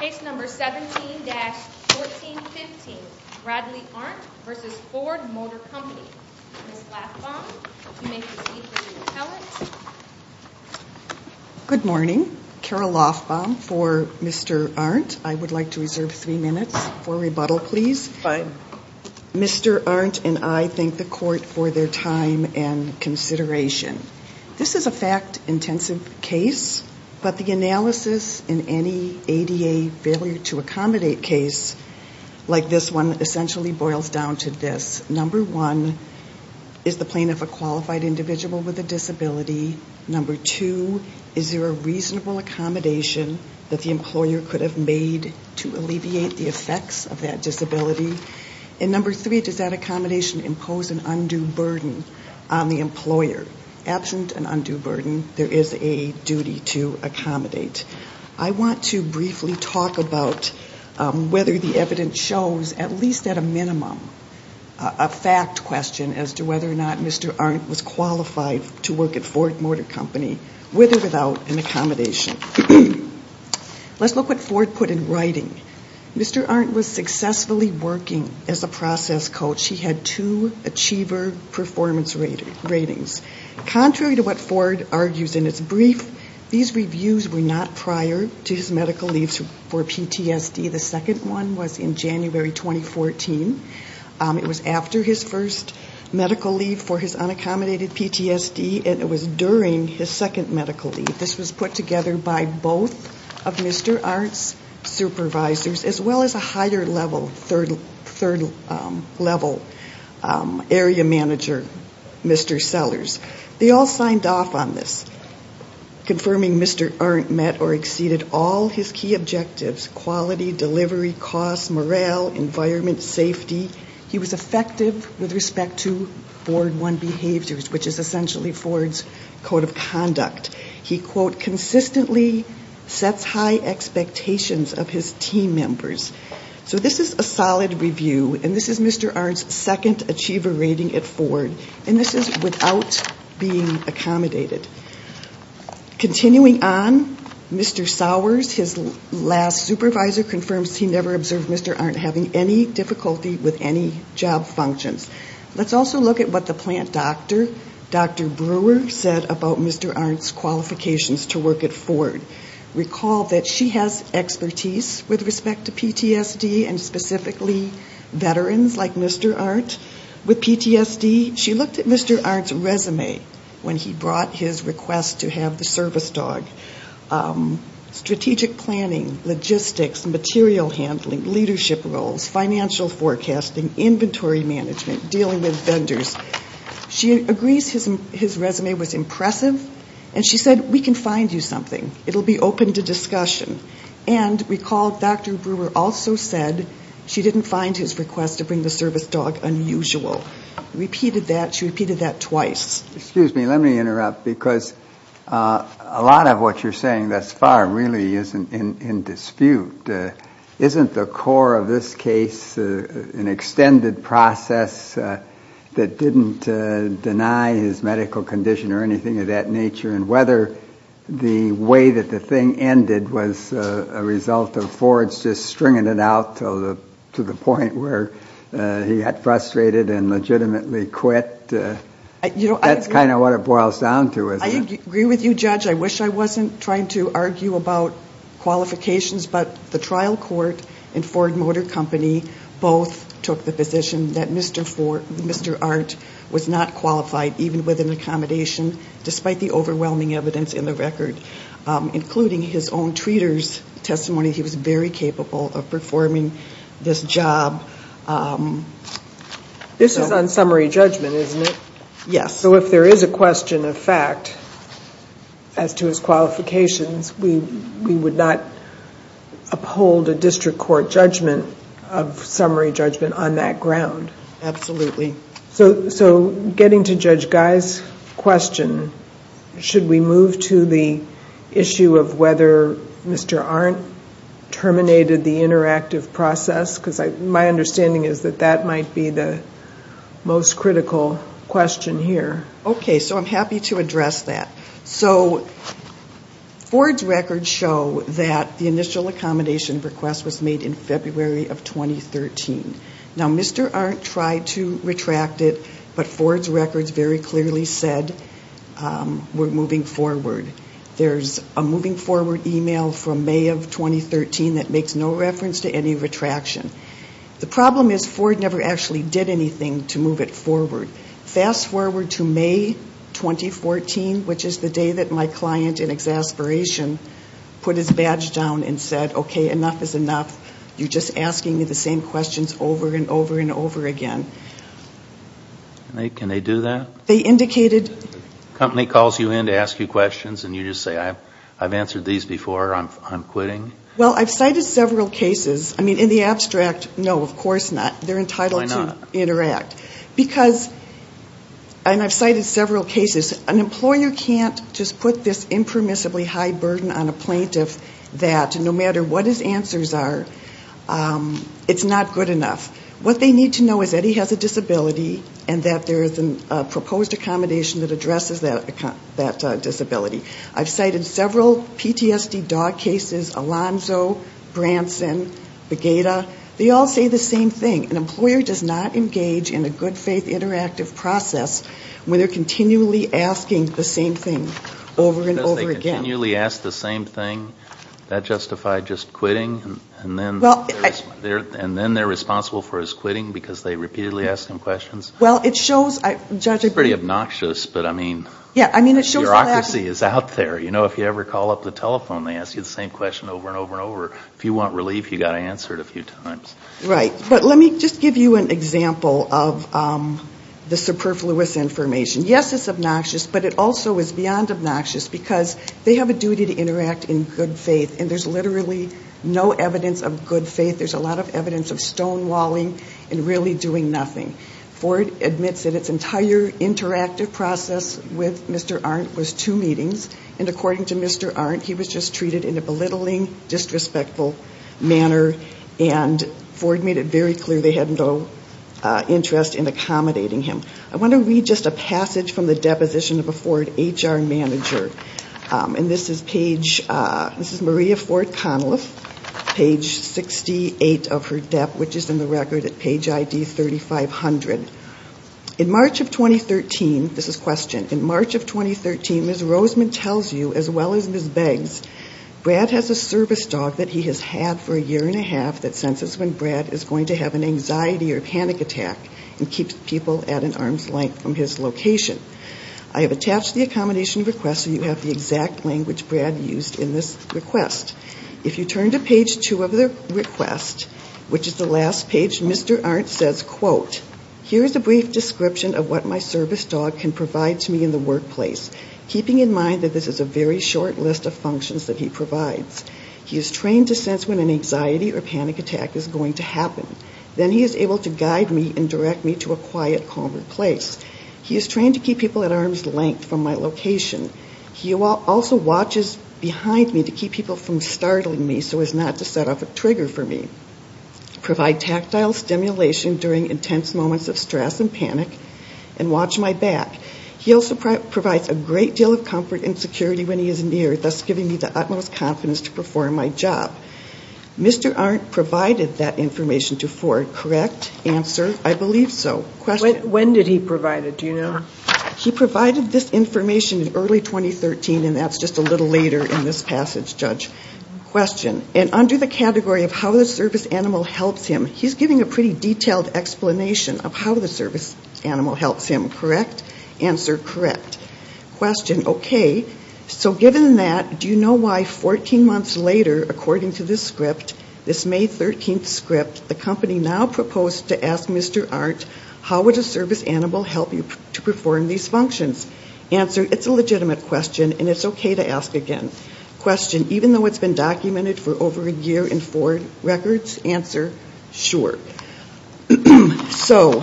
Case number 17-1415, Bradley Arndt v. Ford Motor Company. Ms. Lofbaum, you may proceed to the appellate. Good morning. Carol Lofbaum for Mr. Arndt. I would like to reserve three minutes for rebuttal, please. Mr. Arndt and I thank the court for their time and consideration. This is a fact-intensive case, but the analysis in any ADA failure-to-accommodate case like this one essentially boils down to this. Number one, is the plaintiff a qualified individual with a disability? Number two, is there a reasonable accommodation that the employer could have made to alleviate the effects of that disability? And number three, does that accommodation impose an undue burden on the employer? Absent an undue burden, there is a duty to accommodate. I want to briefly talk about whether the evidence shows, at least at a minimum, a fact question as to whether or not Mr. Arndt was qualified to work at Ford Motor Company with or without an accommodation. Let's look at what Ford put in writing. Mr. Arndt was successfully working as a process coach. He had two Achiever Performance Ratings. Contrary to what Ford argues in his brief, these reviews were not prior to his medical leave for PTSD. The second one was in January 2014. It was after his first medical leave for his unaccommodated PTSD, and it was during his second medical leave. This was put together by both of Mr. Arndt's supervisors, as well as a higher level, third level area manager, Mr. Sellers. They all signed off on this, confirming Mr. Arndt met or exceeded all his key objectives, quality, delivery, cost, morale, environment, safety. He was effective with respect to board one behaviors, which is essentially Ford's code of conduct. He, quote, consistently sets high expectations of his team members. So this is a solid review, and this is Mr. Arndt's second Achiever Rating at Ford, and this is without being accommodated. Continuing on, Mr. Sowers, his last supervisor, confirms he never observed Mr. Arndt having any difficulty with any job functions. Let's also look at what the plant doctor, Dr. Brewer, said about Mr. Arndt's qualifications to work at Ford. Recall that she has expertise with respect to PTSD, and specifically veterans like Mr. Arndt with PTSD. She looked at Mr. Arndt's resume when he brought his request to have the service dog. Strategic planning, logistics, material handling, leadership roles, financial forecasting, inventory management, dealing with vendors. She agrees his resume was impressive, and she said, we can find you something. It will be open to discussion. And recall Dr. Brewer also said she didn't find his request to bring the service dog unusual. She repeated that twice. Excuse me, let me interrupt, because a lot of what you're saying thus far really isn't in dispute. Isn't the core of this case an extended process that didn't deny his medical condition or anything of that nature? And whether the way that the thing ended was a result of Ford's just stringing it out to the point where he got frustrated and legitimately quit. That's kind of what it boils down to, isn't it? I agree with you, Judge. I wish I wasn't trying to argue about qualifications, but the trial court and Ford Motor Company both took the position that Mr. Arndt was not qualified, even with an accommodation, despite the overwhelming evidence in the record, including his own treater's testimony. He was very capable of performing this job. This is on summary judgment, isn't it? Yes. So if there is a question of fact as to his qualifications, we would not uphold a district court judgment of summary judgment on that ground. Absolutely. So getting to Judge Guy's question, should we move to the issue of whether Mr. Arndt terminated the interactive process? Because my understanding is that that might be the most critical question here. Okay. So I'm happy to address that. So Ford's records show that the initial accommodation request was made in February of 2013. Now, Mr. Arndt tried to retract it, but Ford's records very clearly said we're moving forward. There's a moving forward email from May of 2013 that makes no reference to any retraction. The problem is Ford never actually did anything to move it forward. Fast forward to May 2014, which is the day that my client in exasperation put his badge down and said, okay, enough is enough, you're just asking me the same questions over and over and over again. Can they do that? The company calls you in to ask you questions, and you just say, I've answered these before, I'm quitting? Well, I've cited several cases. I mean, in the abstract, no, of course not. They're entitled to interact. Why not? Because, and I've cited several cases, an employer can't just put this impermissibly high burden on a plaintiff that no matter what his answers are, it's not good enough. What they need to know is that he has a disability, and that there is a proposed accommodation that addresses that disability. I've cited several PTSD dog cases, Alonzo, Branson, Bagata. They all say the same thing. An employer does not engage in a good faith interactive process when they're continually asking the same thing over and over again. Continually ask the same thing? That justify just quitting? And then they're responsible for his quitting because they repeatedly ask him questions? Well, it shows. It's pretty obnoxious, but I mean, bureaucracy is out there. You know, if you ever call up the telephone, they ask you the same question over and over and over. If you want relief, you've got to answer it a few times. Right. But let me just give you an example of the superfluous information. Yes, it's obnoxious, but it also is beyond obnoxious because they have a duty to interact in good faith, and there's literally no evidence of good faith. There's a lot of evidence of stonewalling and really doing nothing. Ford admits that its entire interactive process with Mr. Arndt was two meetings, and according to Mr. Arndt, he was just treated in a belittling, disrespectful manner, and Ford made it very clear they had no interest in accommodating him. I want to read just a passage from the deposition of a Ford HR manager, and this is page ‑‑ this is Maria Ford Conliff, page 68 of her dep, which is in the record at page ID 3500. In March of 2013, this is questioned, in March of 2013, Ms. Roseman tells you as well as Ms. Beggs, Brad has a service dog that he has had for a year and a half that senses when Brad is going to have an anxiety or panic attack and keeps people at an arm's length from his location. I have attached the accommodation request, so you have the exact language Brad used in this request. If you turn to page two of the request, which is the last page, Mr. Arndt says, quote, here is a brief description of what my service dog can provide to me in the workplace, keeping in mind that this is a very short list of functions that he provides. Then he is able to guide me and direct me to a quiet, calmer place. He is trained to keep people at arm's length from my location. He also watches behind me to keep people from startling me so as not to set off a trigger for me, provide tactile stimulation during intense moments of stress and panic, and watch my back. He also provides a great deal of comfort and security when he is near, thus giving me the utmost confidence to perform my job. Mr. Arndt provided that information to Ford, correct? Answer, I believe so. When did he provide it, do you know? He provided this information in early 2013, and that's just a little later in this passage, Judge. Question, and under the category of how the service animal helps him, he's giving a pretty detailed explanation of how the service animal helps him, correct? Answer, correct. Question, okay, so given that, do you know why 14 months later, according to this script, this May 13th script, the company now proposed to ask Mr. Arndt, how would a service animal help you to perform these functions? Answer, it's a legitimate question, and it's okay to ask again. Question, even though it's been documented for over a year in Ford records? Answer, sure. So,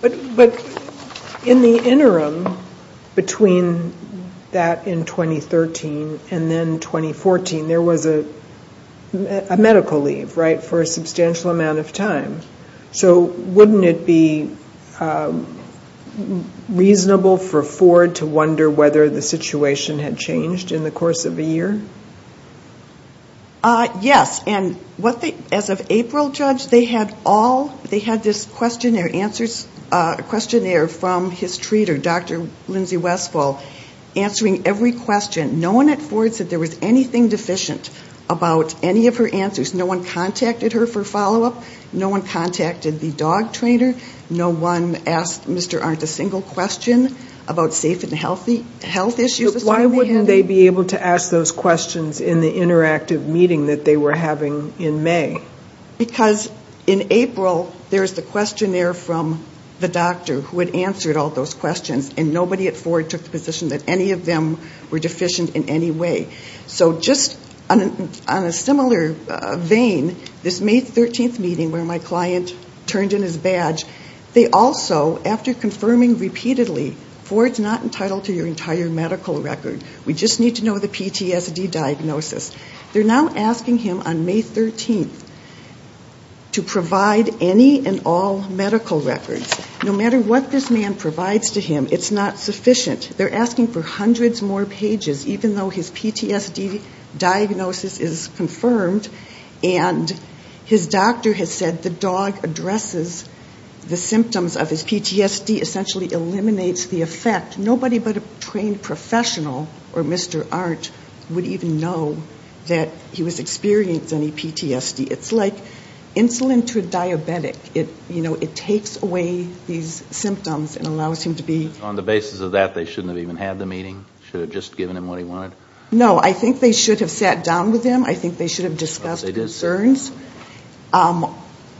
but in the interim, between that in 2013 and then 2014, there was a medical leave, right, for a substantial amount of time. So wouldn't it be reasonable for Ford to wonder whether the situation had changed in the course of a year? Yes, and as of April, Judge, they had all, they had this questionnaire from his treater, Dr. Lindsay Westfall, answering every question. No one at Ford said there was anything deficient about any of her answers. No one contacted her for follow-up. No one contacted the dog trainer. No one asked Mr. Arndt a single question about safe and health issues. Judge, why wouldn't they be able to ask those questions in the interactive meeting that they were having in May? Because in April, there's the questionnaire from the doctor who had answered all those questions, and nobody at Ford took the position that any of them were deficient in any way. So just on a similar vein, this May 13th meeting where my client turned in his badge, they also, after confirming repeatedly, Ford's not entitled to your entire medical record. We just need to know the PTSD diagnosis. They're now asking him on May 13th to provide any and all medical records. No matter what this man provides to him, it's not sufficient. They're asking for hundreds more pages, even though his PTSD diagnosis is confirmed, PTSD essentially eliminates the effect. Nobody but a trained professional or Mr. Arndt would even know that he was experiencing any PTSD. It's like insulin to a diabetic. It takes away these symptoms and allows him to be. So on the basis of that, they shouldn't have even had the meeting? Should have just given him what he wanted? No, I think they should have sat down with him. I think they should have discussed concerns.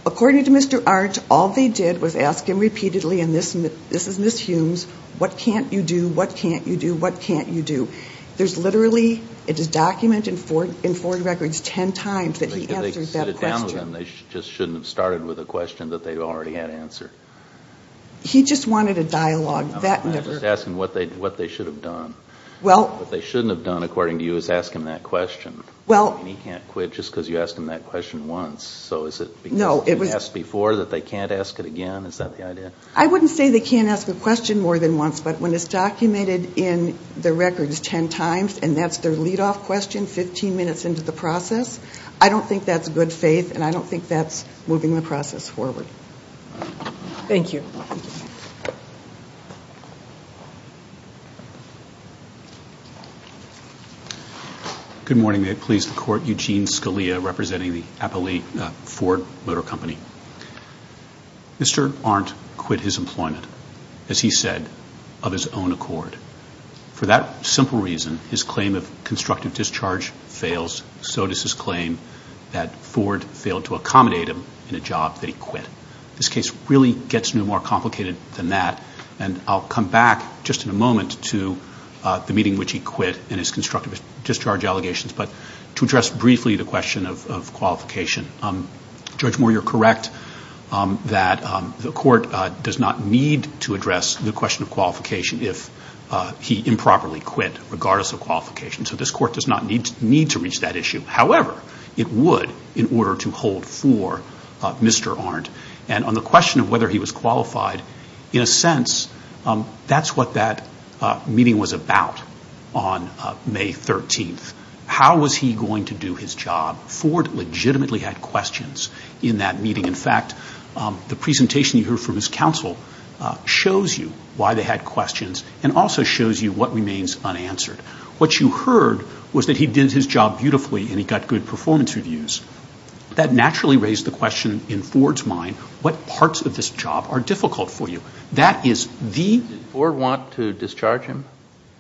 According to Mr. Arndt, all they did was ask him repeatedly, and this is Ms. Humes, what can't you do, what can't you do, what can't you do? There's literally, it is documented in Ford records 10 times that he answered that question. If they sat down with him, they just shouldn't have started with a question that they already had answered. He just wanted a dialogue. I'm just asking what they should have done. What they shouldn't have done, according to you, is ask him that question. He can't quit just because you asked him that question once. So is it because you asked before that they can't ask it again? Is that the idea? I wouldn't say they can't ask a question more than once, but when it's documented in the records 10 times, and that's their lead-off question 15 minutes into the process, I don't think that's good faith, and I don't think that's moving the process forward. Thank you. Thank you. Good morning. May it please the Court. Eugene Scalia representing the Ford Motor Company. Mr. Arndt quit his employment, as he said, of his own accord. For that simple reason, his claim of constructive discharge fails, so does his claim that Ford failed to accommodate him in a job that he quit. This case really gets no more complicated than that, and I'll come back just in a moment to the meeting in which he quit and his constructive discharge allegations, but to address briefly the question of qualification. Judge Moore, you're correct that the Court does not need to address the question of qualification if he improperly quit, regardless of qualification. So this Court does not need to reach that issue. However, it would in order to hold for Mr. Arndt, and on the question of whether he was qualified, in a sense, that's what that meeting was about on May 13th. How was he going to do his job? Ford legitimately had questions in that meeting. In fact, the presentation you heard from his counsel shows you why they had questions and also shows you what remains unanswered. What you heard was that he did his job beautifully and he got good performance reviews. That naturally raised the question in Ford's mind, what parts of this job are difficult for you? That is the ---- Did Ford want to discharge him?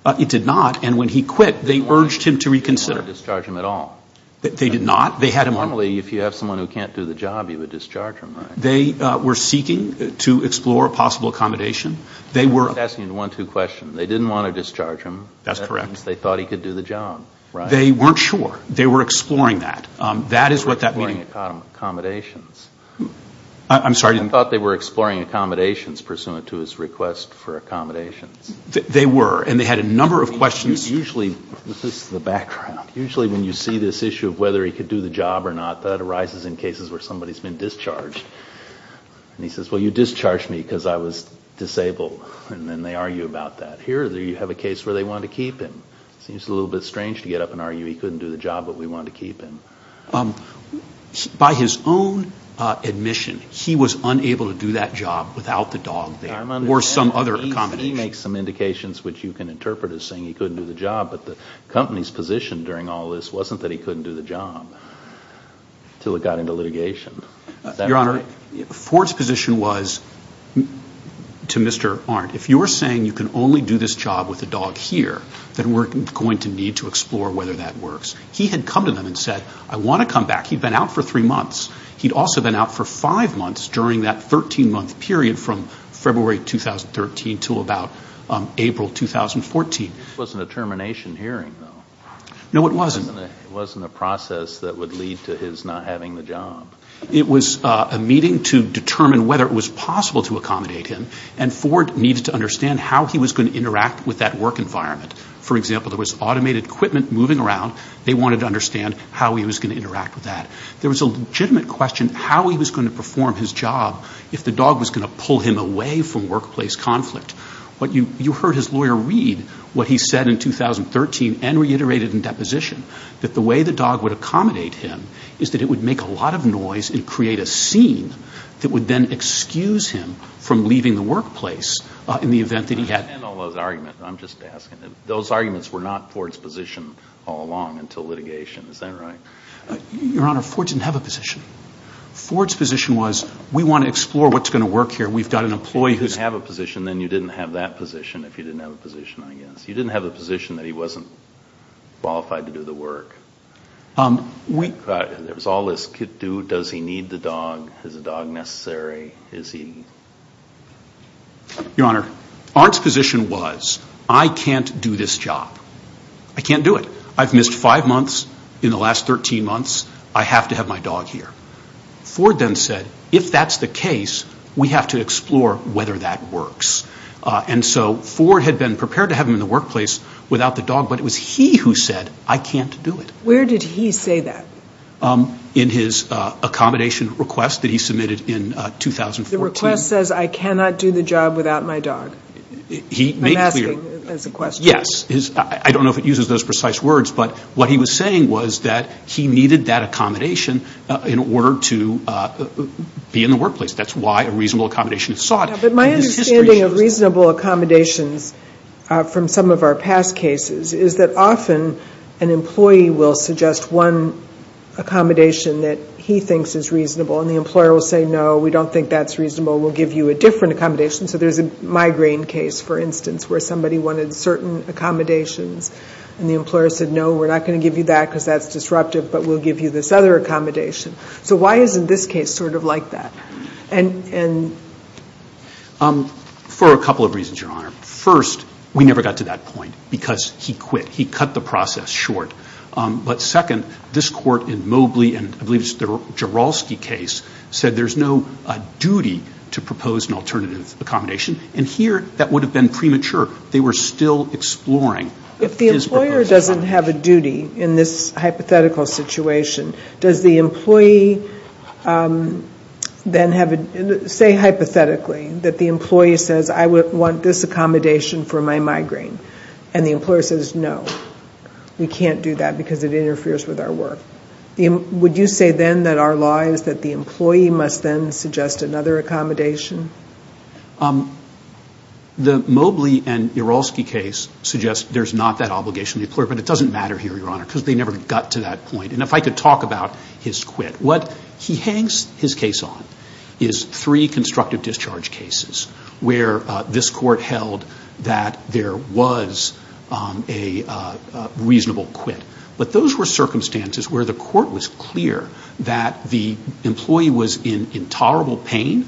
It did not, and when he quit, they urged him to reconsider. They didn't want to discharge him at all. They did not. They had him on ---- Normally, if you have someone who can't do the job, you would discharge him, right? They were seeking to explore a possible accommodation. They were ---- I'm just asking you the one-two question. They didn't want to discharge him. That's correct. That means they thought he could do the job, right? They weren't sure. They were exploring that. That is what that meeting ---- They were exploring accommodations. I'm sorry? They thought they were exploring accommodations pursuant to his request for accommodations. They were, and they had a number of questions ---- Usually, this is the background, usually when you see this issue of whether he could do the job or not, that arises in cases where somebody has been discharged. And he says, well, you discharged me because I was disabled, and then they argue about that. Here you have a case where they wanted to keep him. It seems a little bit strange to get up and argue he couldn't do the job, but we wanted to keep him. By his own admission, he was unable to do that job without the dog there or some other accommodation. He makes some indications which you can interpret as saying he couldn't do the job, but the company's position during all this wasn't that he couldn't do the job until it got into litigation. Your Honor, Ford's position was to Mr. Arndt, if you're saying you can only do this job with the dog here, then we're going to need to explore whether that works. He had come to them and said, I want to come back. He'd been out for three months. He'd also been out for five months during that 13-month period from February 2013 to about April 2014. It wasn't a termination hearing, though. No, it wasn't. It wasn't a process that would lead to his not having the job. It was a meeting to determine whether it was possible to accommodate him, and Ford needed to understand how he was going to interact with that work environment. For example, there was automated equipment moving around. They wanted to understand how he was going to interact with that. There was a legitimate question how he was going to perform his job if the dog was going to pull him away from workplace conflict. You heard his lawyer read what he said in 2013 and reiterated in deposition, that the way the dog would accommodate him is that it would make a lot of noise and create a scene that would then excuse him from leaving the workplace in the event that he had. And all those arguments. I'm just asking. Those arguments were not Ford's position all along until litigation. Is that right? Your Honor, Ford didn't have a position. Ford's position was, we want to explore what's going to work here. We've got an employee who's. You didn't have a position, then you didn't have that position if you didn't have a position, I guess. You didn't have a position that he wasn't qualified to do the work. There was all this, does he need the dog? Is the dog necessary? Your Honor, Arndt's position was, I can't do this job. I can't do it. I've missed five months. In the last 13 months, I have to have my dog here. Ford then said, if that's the case, we have to explore whether that works. And so Ford had been prepared to have him in the workplace without the dog, but it was he who said, I can't do it. Where did he say that? In his accommodation request that he submitted in 2014. The request says, I cannot do the job without my dog. I'm asking as a question. Yes. I don't know if it uses those precise words, but what he was saying was that he needed that accommodation in order to be in the workplace. That's why a reasonable accommodation is sought. My understanding of reasonable accommodations from some of our past cases is that often an employee will suggest one accommodation that he thinks is reasonable, and the employer will say, no, we don't think that's reasonable. We'll give you a different accommodation. So there's a migraine case, for instance, where somebody wanted certain accommodations, and the employer said, no, we're not going to give you that because that's disruptive, but we'll give you this other accommodation. So why isn't this case sort of like that? For a couple of reasons, Your Honor. First, we never got to that point because he quit. He cut the process short. But second, this court in Mobley, and I believe it's the Jourolski case, said there's no duty to propose an alternative accommodation, and here that would have been premature. They were still exploring. If the employer doesn't have a duty in this hypothetical situation, does the employee then say hypothetically that the employee says, I want this accommodation for my migraine. And the employer says, no, we can't do that because it interferes with our work. Would you say then that our law is that the employee must then suggest another accommodation? The Mobley and Jourolski case suggests there's not that obligation to the employer, but it doesn't matter here, Your Honor, because they never got to that point. And if I could talk about his quit. What he hangs his case on is three constructive discharge cases where this court held that there was a reasonable quit. But those were circumstances where the court was clear that the employee was in intolerable pain,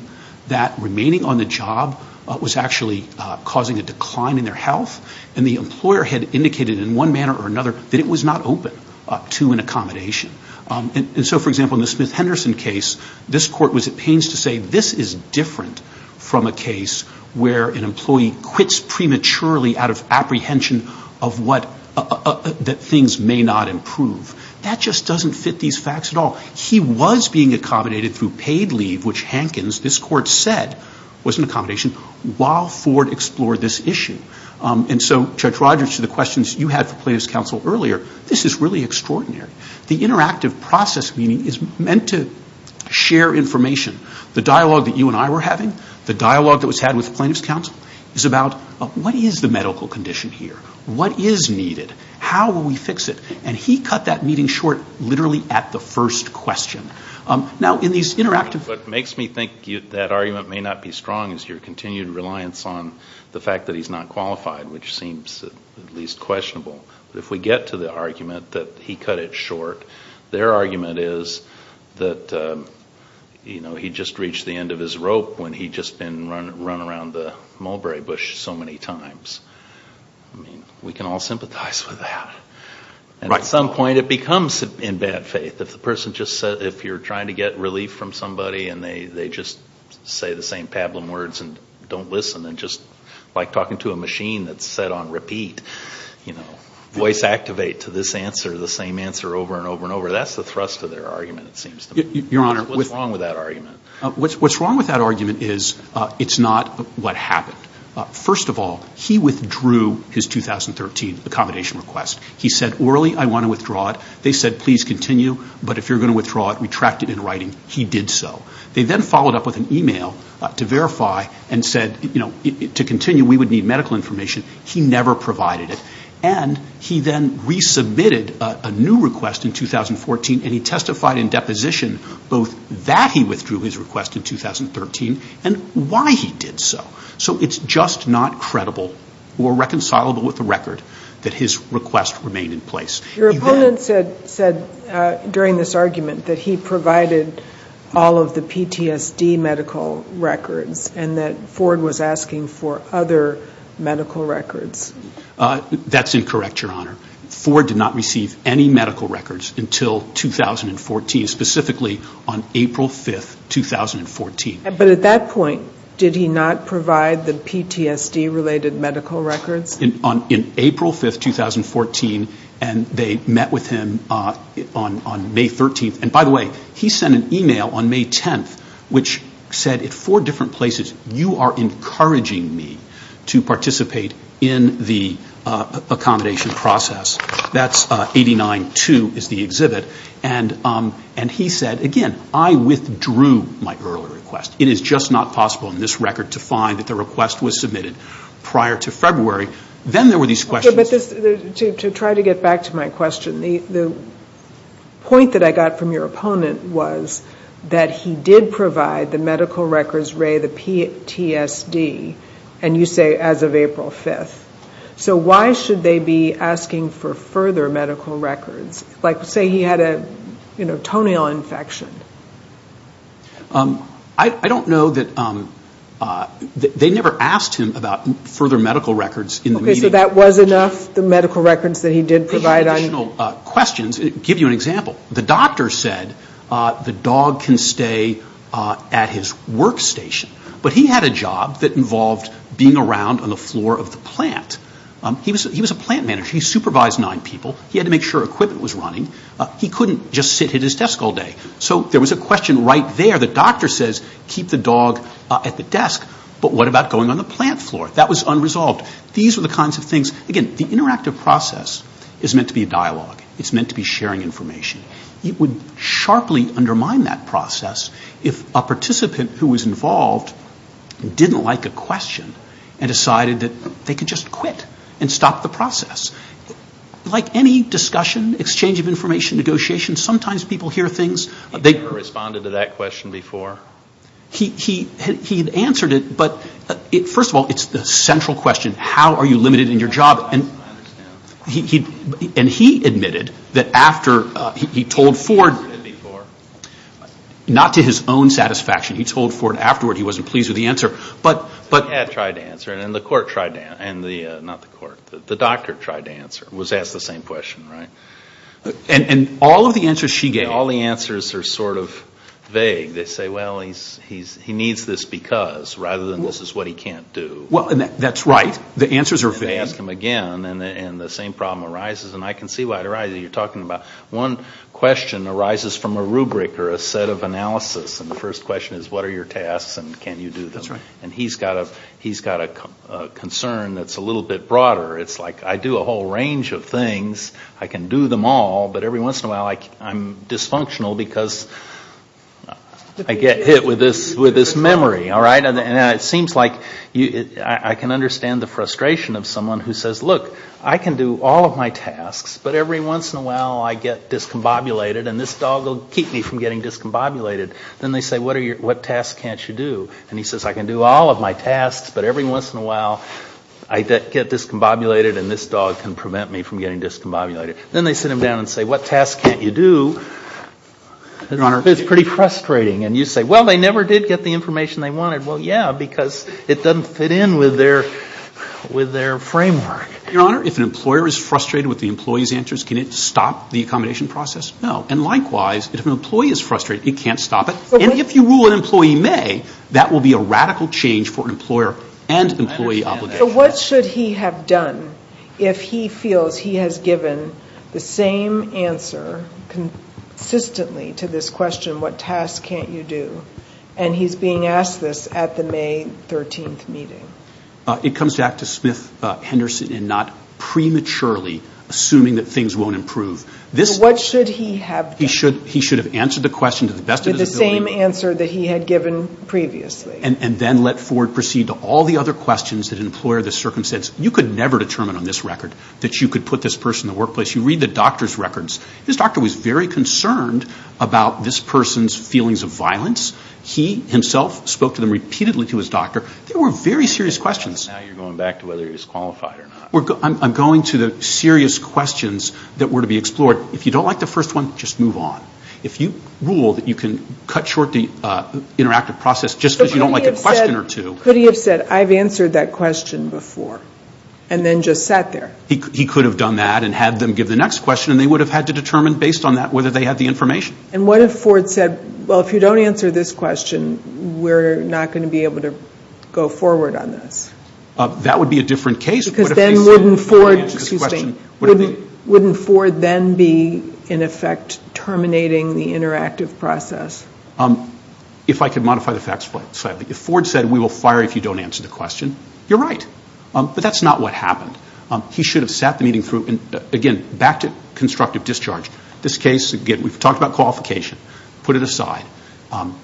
that remaining on the job was actually causing a decline in their health, and the employer had indicated in one manner or another that it was not open to an accommodation. And so, for example, in the Smith-Henderson case, this court was at pains to say this is different from a case where an employee quits prematurely out of apprehension that things may not improve. That just doesn't fit these facts at all. He was being accommodated through paid leave, which Hankins, this court said, was an accommodation while Ford explored this issue. And so, Judge Rodgers, to the questions you had for plaintiff's counsel earlier, this is really extraordinary. The interactive process meeting is meant to share information. The dialogue that you and I were having, the dialogue that was had with the plaintiff's counsel, is about what is the medical condition here? What is needed? How will we fix it? And he cut that meeting short literally at the first question. Now, in these interactive... which seems at least questionable. But if we get to the argument that he cut it short, their argument is that he just reached the end of his rope when he'd just been run around the mulberry bush so many times. I mean, we can all sympathize with that. And at some point it becomes in bad faith. If the person just said... If you're trying to get relief from somebody and they just say the same pablum words and don't listen and just like talking to a machine that's set on repeat, you know, voice activate to this answer, the same answer over and over and over, that's the thrust of their argument, it seems to me. What's wrong with that argument? What's wrong with that argument is it's not what happened. First of all, he withdrew his 2013 accommodation request. He said, orally, I want to withdraw it. They said, please continue, but if you're going to withdraw it, retract it in writing. He did so. They then followed up with an e-mail to verify and said, you know, to continue we would need medical information. He never provided it. And he then resubmitted a new request in 2014, and he testified in deposition both that he withdrew his request in 2013 and why he did so. So it's just not credible or reconcilable with the record that his request remained in place. Your opponent said during this argument that he provided all of the PTSD medical records and that Ford was asking for other medical records. That's incorrect, Your Honor. Ford did not receive any medical records until 2014, specifically on April 5, 2014. But at that point, did he not provide the PTSD-related medical records? In April 5, 2014, and they met with him on May 13th. And, by the way, he sent an e-mail on May 10th which said at four different places, you are encouraging me to participate in the accommodation process. That's 89-2 is the exhibit. And he said, again, I withdrew my earlier request. It is just not possible in this record to find that the request was submitted prior to February. Then there were these questions. To try to get back to my question, the point that I got from your opponent was that he did provide the medical records, Ray, the PTSD, and you say as of April 5th. So why should they be asking for further medical records? Like, say he had a toenail infection. I don't know that they never asked him about further medical records in the media. Okay, so that was enough, the medical records that he did provide on you? For additional questions, I'll give you an example. The doctor said the dog can stay at his workstation. But he had a job that involved being around on the floor of the plant. He was a plant manager. He supervised nine people. He had to make sure equipment was running. He couldn't just sit at his desk all day. So there was a question right there. The doctor says keep the dog at the desk, but what about going on the plant floor? That was unresolved. These were the kinds of things. Again, the interactive process is meant to be a dialogue. It's meant to be sharing information. It would sharply undermine that process if a participant who was involved didn't like a question and decided that they could just quit and stop the process. Like any discussion, exchange of information, negotiation, sometimes people hear things. He never responded to that question before? He had answered it, but first of all, it's the central question, how are you limited in your job? I understand. And he admitted that after he told Ford, not to his own satisfaction. He had tried to answer it, and the doctor tried to answer it. It was asked the same question, right? And all of the answers she gave. All the answers are sort of vague. They say, well, he needs this because, rather than this is what he can't do. That's right. The answers are vague. And they ask him again, and the same problem arises, and I can see why it arises. You're talking about one question arises from a rubric or a set of analysis, and the first question is, what are your tasks and can you do them? That's right. And he's got a concern that's a little bit broader. It's like I do a whole range of things. I can do them all, but every once in a while I'm dysfunctional because I get hit with this memory, all right? And it seems like I can understand the frustration of someone who says, look, I can do all of my tasks, but every once in a while I get discombobulated, and this dog will keep me from getting discombobulated. Then they say, what tasks can't you do? And he says, I can do all of my tasks, but every once in a while I get discombobulated and this dog can prevent me from getting discombobulated. Then they sit him down and say, what tasks can't you do? It's pretty frustrating. And you say, well, they never did get the information they wanted. Well, yeah, because it doesn't fit in with their framework. Your Honor, if an employer is frustrated with the employee's answers, can it stop the accommodation process? No. And likewise, if an employee is frustrated, it can't stop it. And if you rule an employee may, that will be a radical change for an employer and employee obligation. So what should he have done if he feels he has given the same answer consistently to this question, what tasks can't you do, and he's being asked this at the May 13th meeting? It comes back to Smith-Henderson and not prematurely assuming that things won't improve. So what should he have done? He should have answered the question to the best of his ability. With the same answer that he had given previously. And then let Ford proceed to all the other questions that an employer in this circumstance, you could never determine on this record that you could put this person in the workplace. You read the doctor's records. This doctor was very concerned about this person's feelings of violence. He himself spoke to them repeatedly to his doctor. They were very serious questions. Now you're going back to whether he's qualified or not. I'm going to the serious questions that were to be explored. If you don't like the first one, just move on. If you rule that you can cut short the interactive process just because you don't like a question or two. Could he have said, I've answered that question before, and then just sat there? He could have done that and had them give the next question, and they would have had to determine based on that whether they had the information. And what if Ford said, well, if you don't answer this question, we're not going to be able to go forward on this? That would be a different case. Because then wouldn't Ford then be, in effect, terminating the interactive process? If I could modify the facts slightly. If Ford said, we will fire you if you don't answer the question, you're right. But that's not what happened. He should have sat the meeting through. Again, back to constructive discharge. This case, again, we've talked about qualification. Put it aside.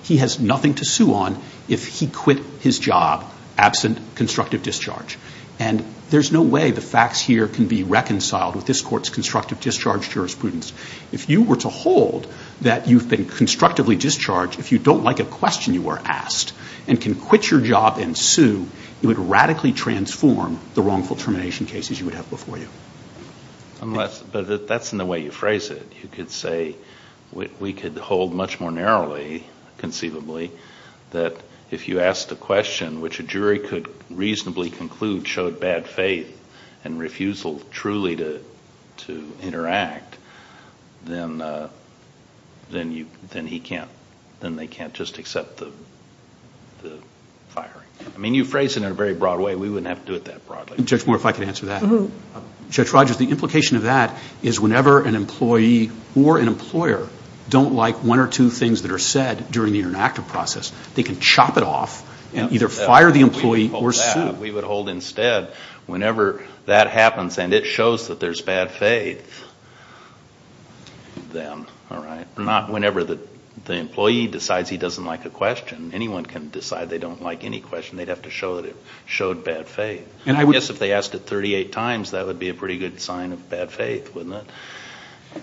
He has nothing to sue on if he quit his job absent constructive discharge. And there's no way the facts here can be reconciled with this Court's constructive discharge jurisprudence. If you were to hold that you've been constructively discharged, if you don't like a question you were asked and can quit your job and sue, it would radically transform the wrongful termination cases you would have before you. But that's not the way you phrase it. You could say we could hold much more narrowly, conceivably, that if you asked a question which a jury could reasonably conclude showed bad faith and refusal truly to interact, then they can't just accept the firing. I mean, you phrase it in a very broad way. We wouldn't have to do it that broadly. Judge Moore, if I could answer that. Judge Rogers, the implication of that is whenever an employee or an employer don't like one or two things that are said during the interactive process, they can chop it off and either fire the employee or sue. We would hold that. We would hold instead whenever that happens and it shows that there's bad faith, then, all right, not whenever the employee decides he doesn't like a question. Anyone can decide they don't like any question. They'd have to show that it showed bad faith. I guess if they asked it 38 times, that would be a pretty good sign of bad faith, wouldn't it?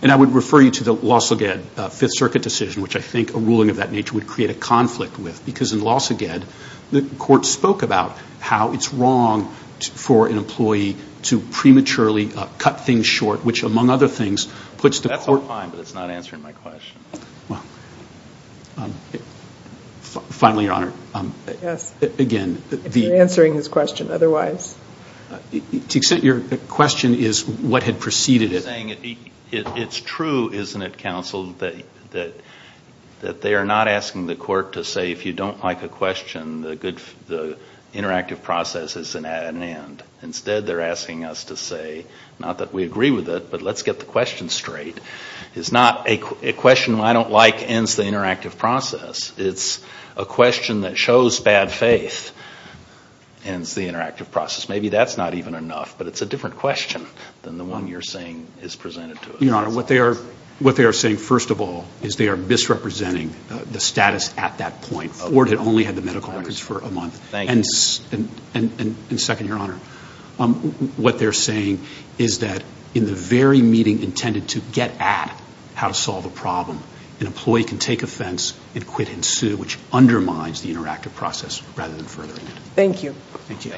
And I would refer you to the Lausauget Fifth Circuit decision, which I think a ruling of that nature would create a conflict with because in Lausauget, the court spoke about how it's wrong for an employee to prematurely cut things short, which, among other things, puts the court. That's all fine, but it's not answering my question. Finally, Your Honor, again. If you're answering his question otherwise. To the extent your question is what had preceded it. You're saying it's true, isn't it, counsel, that they are not asking the court to say if you don't like a question, the interactive process is at an end. Instead, they're asking us to say, not that we agree with it, but let's get the question straight. It's not a question I don't like ends the interactive process. It's a question that shows bad faith ends the interactive process. Maybe that's not even enough, but it's a different question than the one you're saying is presented to us. Your Honor, what they are saying, first of all, is they are misrepresenting the status at that point. The court had only had the medical records for a month. And second, Your Honor, what they're saying is that in the very meeting intended to get at how to solve a problem, an employee can take offense and quit and sue, which undermines the interactive process rather than furthering it. Thank you. Thank you.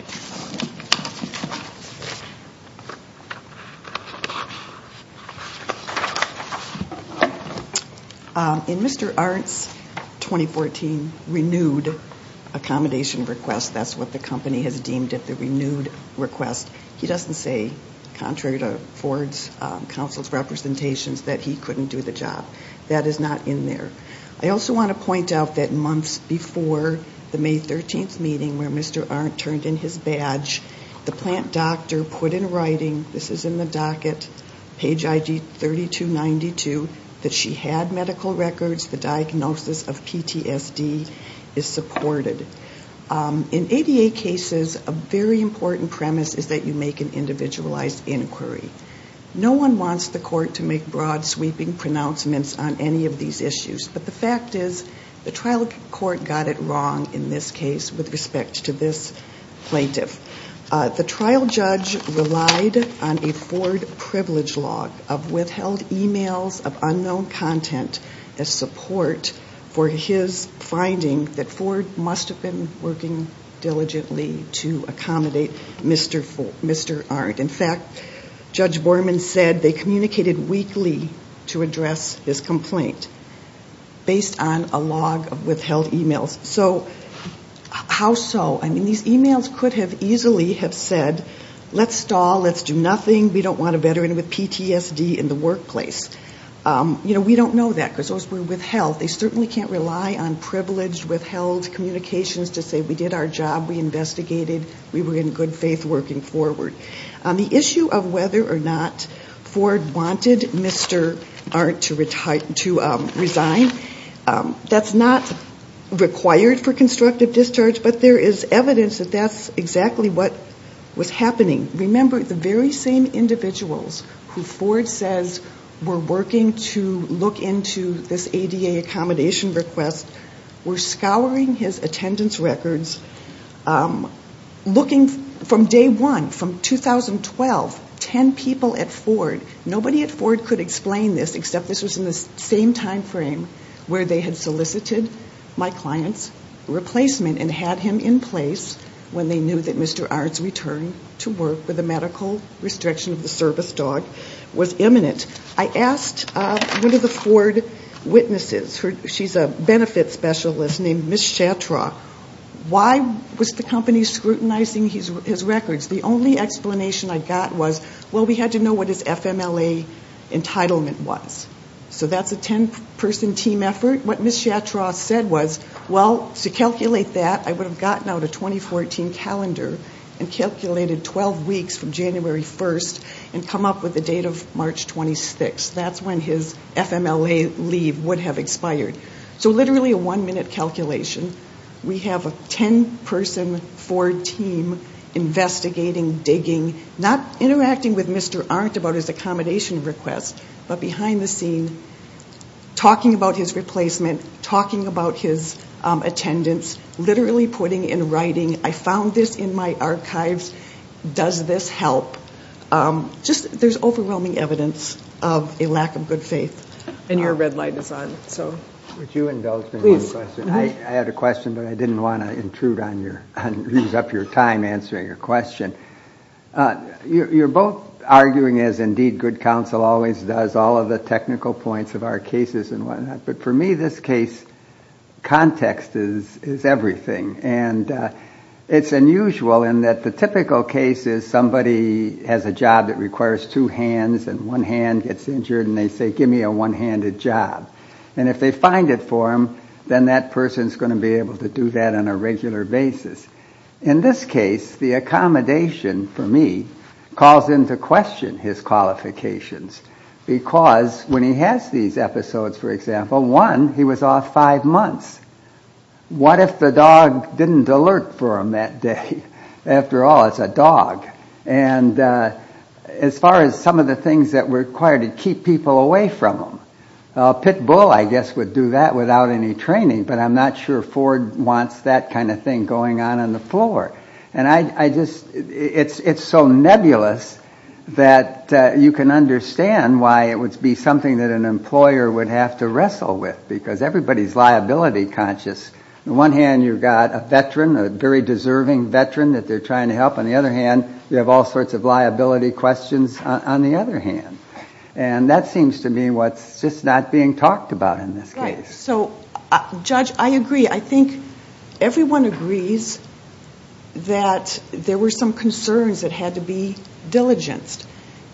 In Mr. Arndt's 2014 renewed accommodation request, that's what the company has deemed at the renewed request, he doesn't say, contrary to Ford's counsel's representations, that he couldn't do the job. That is not in there. I also want to point out that months before the May 13th meeting where Mr. Arndt turned in his badge, the plant doctor put in writing, this is in the docket, page ID 3292, that she had medical records, the diagnosis of PTSD is supported. In ADA cases, a very important premise is that you make an individualized inquiry. No one wants the court to make broad, sweeping pronouncements on any of these issues, but the fact is the trial court got it wrong in this case with respect to this plaintiff. The trial judge relied on a Ford privilege log of withheld e-mails of unknown content as support for his finding that Ford must have been working diligently to accommodate Mr. Arndt. In fact, Judge Borman said they communicated weekly to address his complaint based on a log of withheld e-mails. So how so? I mean, these e-mails could have easily have said, let's stall, let's do nothing, we don't want a veteran with PTSD in the workplace. You know, we don't know that because those were withheld. They certainly can't rely on privileged withheld communications to say we did our job, we investigated, we were in good faith working forward. On the issue of whether or not Ford wanted Mr. Arndt to resign, that's not required for constructive discharge, but there is evidence that that's exactly what was happening. Remember, the very same individuals who Ford says were working to look into this ADA accommodation request were scouring his attendance records, looking from day one, from 2012, 10 people at Ford. Nobody at Ford could explain this except this was in the same time frame where they had solicited my client's replacement and had him in place when they knew that Mr. Arndt's return to work with a medical restriction of the service dog was imminent. I asked one of the Ford witnesses, she's a benefits specialist named Ms. Shatra, why was the company scrutinizing his records? The only explanation I got was, well, we had to know what his FMLA entitlement was. So that's a 10-person team effort. What Ms. Shatra said was, well, to calculate that, I would have gotten out a 2014 calendar and calculated 12 weeks from January 1st and come up with the date of March 26th. That's when his FMLA leave would have expired. So literally a one-minute calculation. We have a 10-person Ford team investigating, digging, not interacting with Mr. Arndt about his accommodation request, but behind the scene talking about his replacement, talking about his attendance, literally putting in writing, I found this in my archives, does this help? There's overwhelming evidence of a lack of good faith. And your red light is on. Would you indulge me in one question? Please. I had a question, but I didn't want to intrude on your time answering your question. You're both arguing, as indeed good counsel always does, all of the technical points of our cases and whatnot, but for me this case, context is everything. And it's unusual in that the typical case is somebody has a job that requires two hands and one hand gets injured and they say, give me a one-handed job. And if they find it for him, then that person is going to be able to do that on a regular basis. In this case, the accommodation, for me, calls into question his qualifications because when he has these episodes, for example, one, he was off five months. What if the dog didn't alert for him that day? After all, it's a dog. And as far as some of the things that were required to keep people away from him, a pit bull, I guess, would do that without any training, but I'm not sure Ford wants that kind of thing going on on the floor. It's so nebulous that you can understand why it would be something that an employer would have to wrestle with because everybody is liability conscious. On one hand, you've got a veteran, a very deserving veteran that they're trying to help. On the other hand, you have all sorts of liability questions on the other hand. And that seems to me what's just not being talked about in this case. So, Judge, I agree. I think everyone agrees that there were some concerns that had to be diligenced.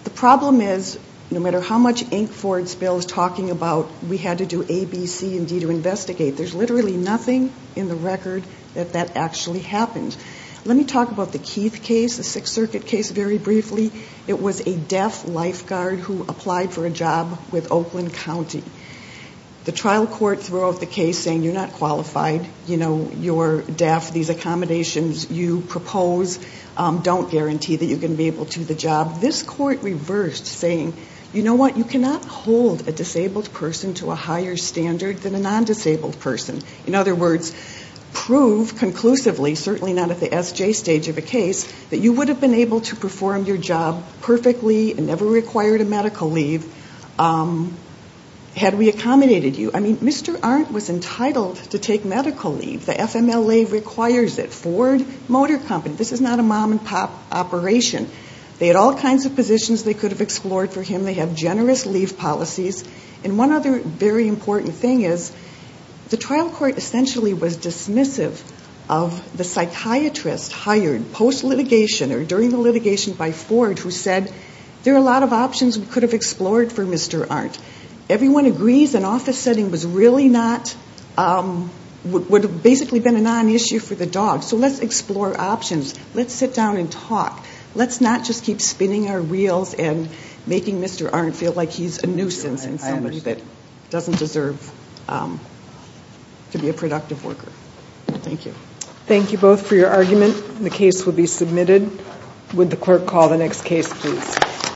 The problem is, no matter how much Inc. Ford's bill is talking about, we had to do A, B, C, and D to investigate. There's literally nothing in the record that that actually happened. Let me talk about the Keith case, the Sixth Circuit case, very briefly. It was a deaf lifeguard who applied for a job with Oakland County. The trial court threw out the case saying, you're not qualified. You know, you're deaf. These accommodations you propose don't guarantee that you're going to be able to do the job. This court reversed, saying, you know what, you cannot hold a disabled person to a higher standard than a non-disabled person. In other words, prove conclusively, certainly not at the SJ stage of a case, that you would have been able to perform your job perfectly and never required a medical leave, had we accommodated you. I mean, Mr. Arndt was entitled to take medical leave. The FMLA requires it. Ford Motor Company, this is not a mom-and-pop operation. They had all kinds of positions they could have explored for him. They have generous leave policies. And one other very important thing is, the trial court essentially was dismissive of the psychiatrist hired post-litigation or during the litigation by Ford, who said, there are a lot of options we could have explored for Mr. Arndt. Everyone agrees an office setting was really not, would have basically been a non-issue for the dog. So let's explore options. Let's sit down and talk. Let's not just keep spinning our reels and making Mr. Arndt feel like he's a nuisance and somebody that doesn't deserve to be a productive worker. Thank you. Thank you both for your argument. The case will be submitted. Would the clerk call the next case, please.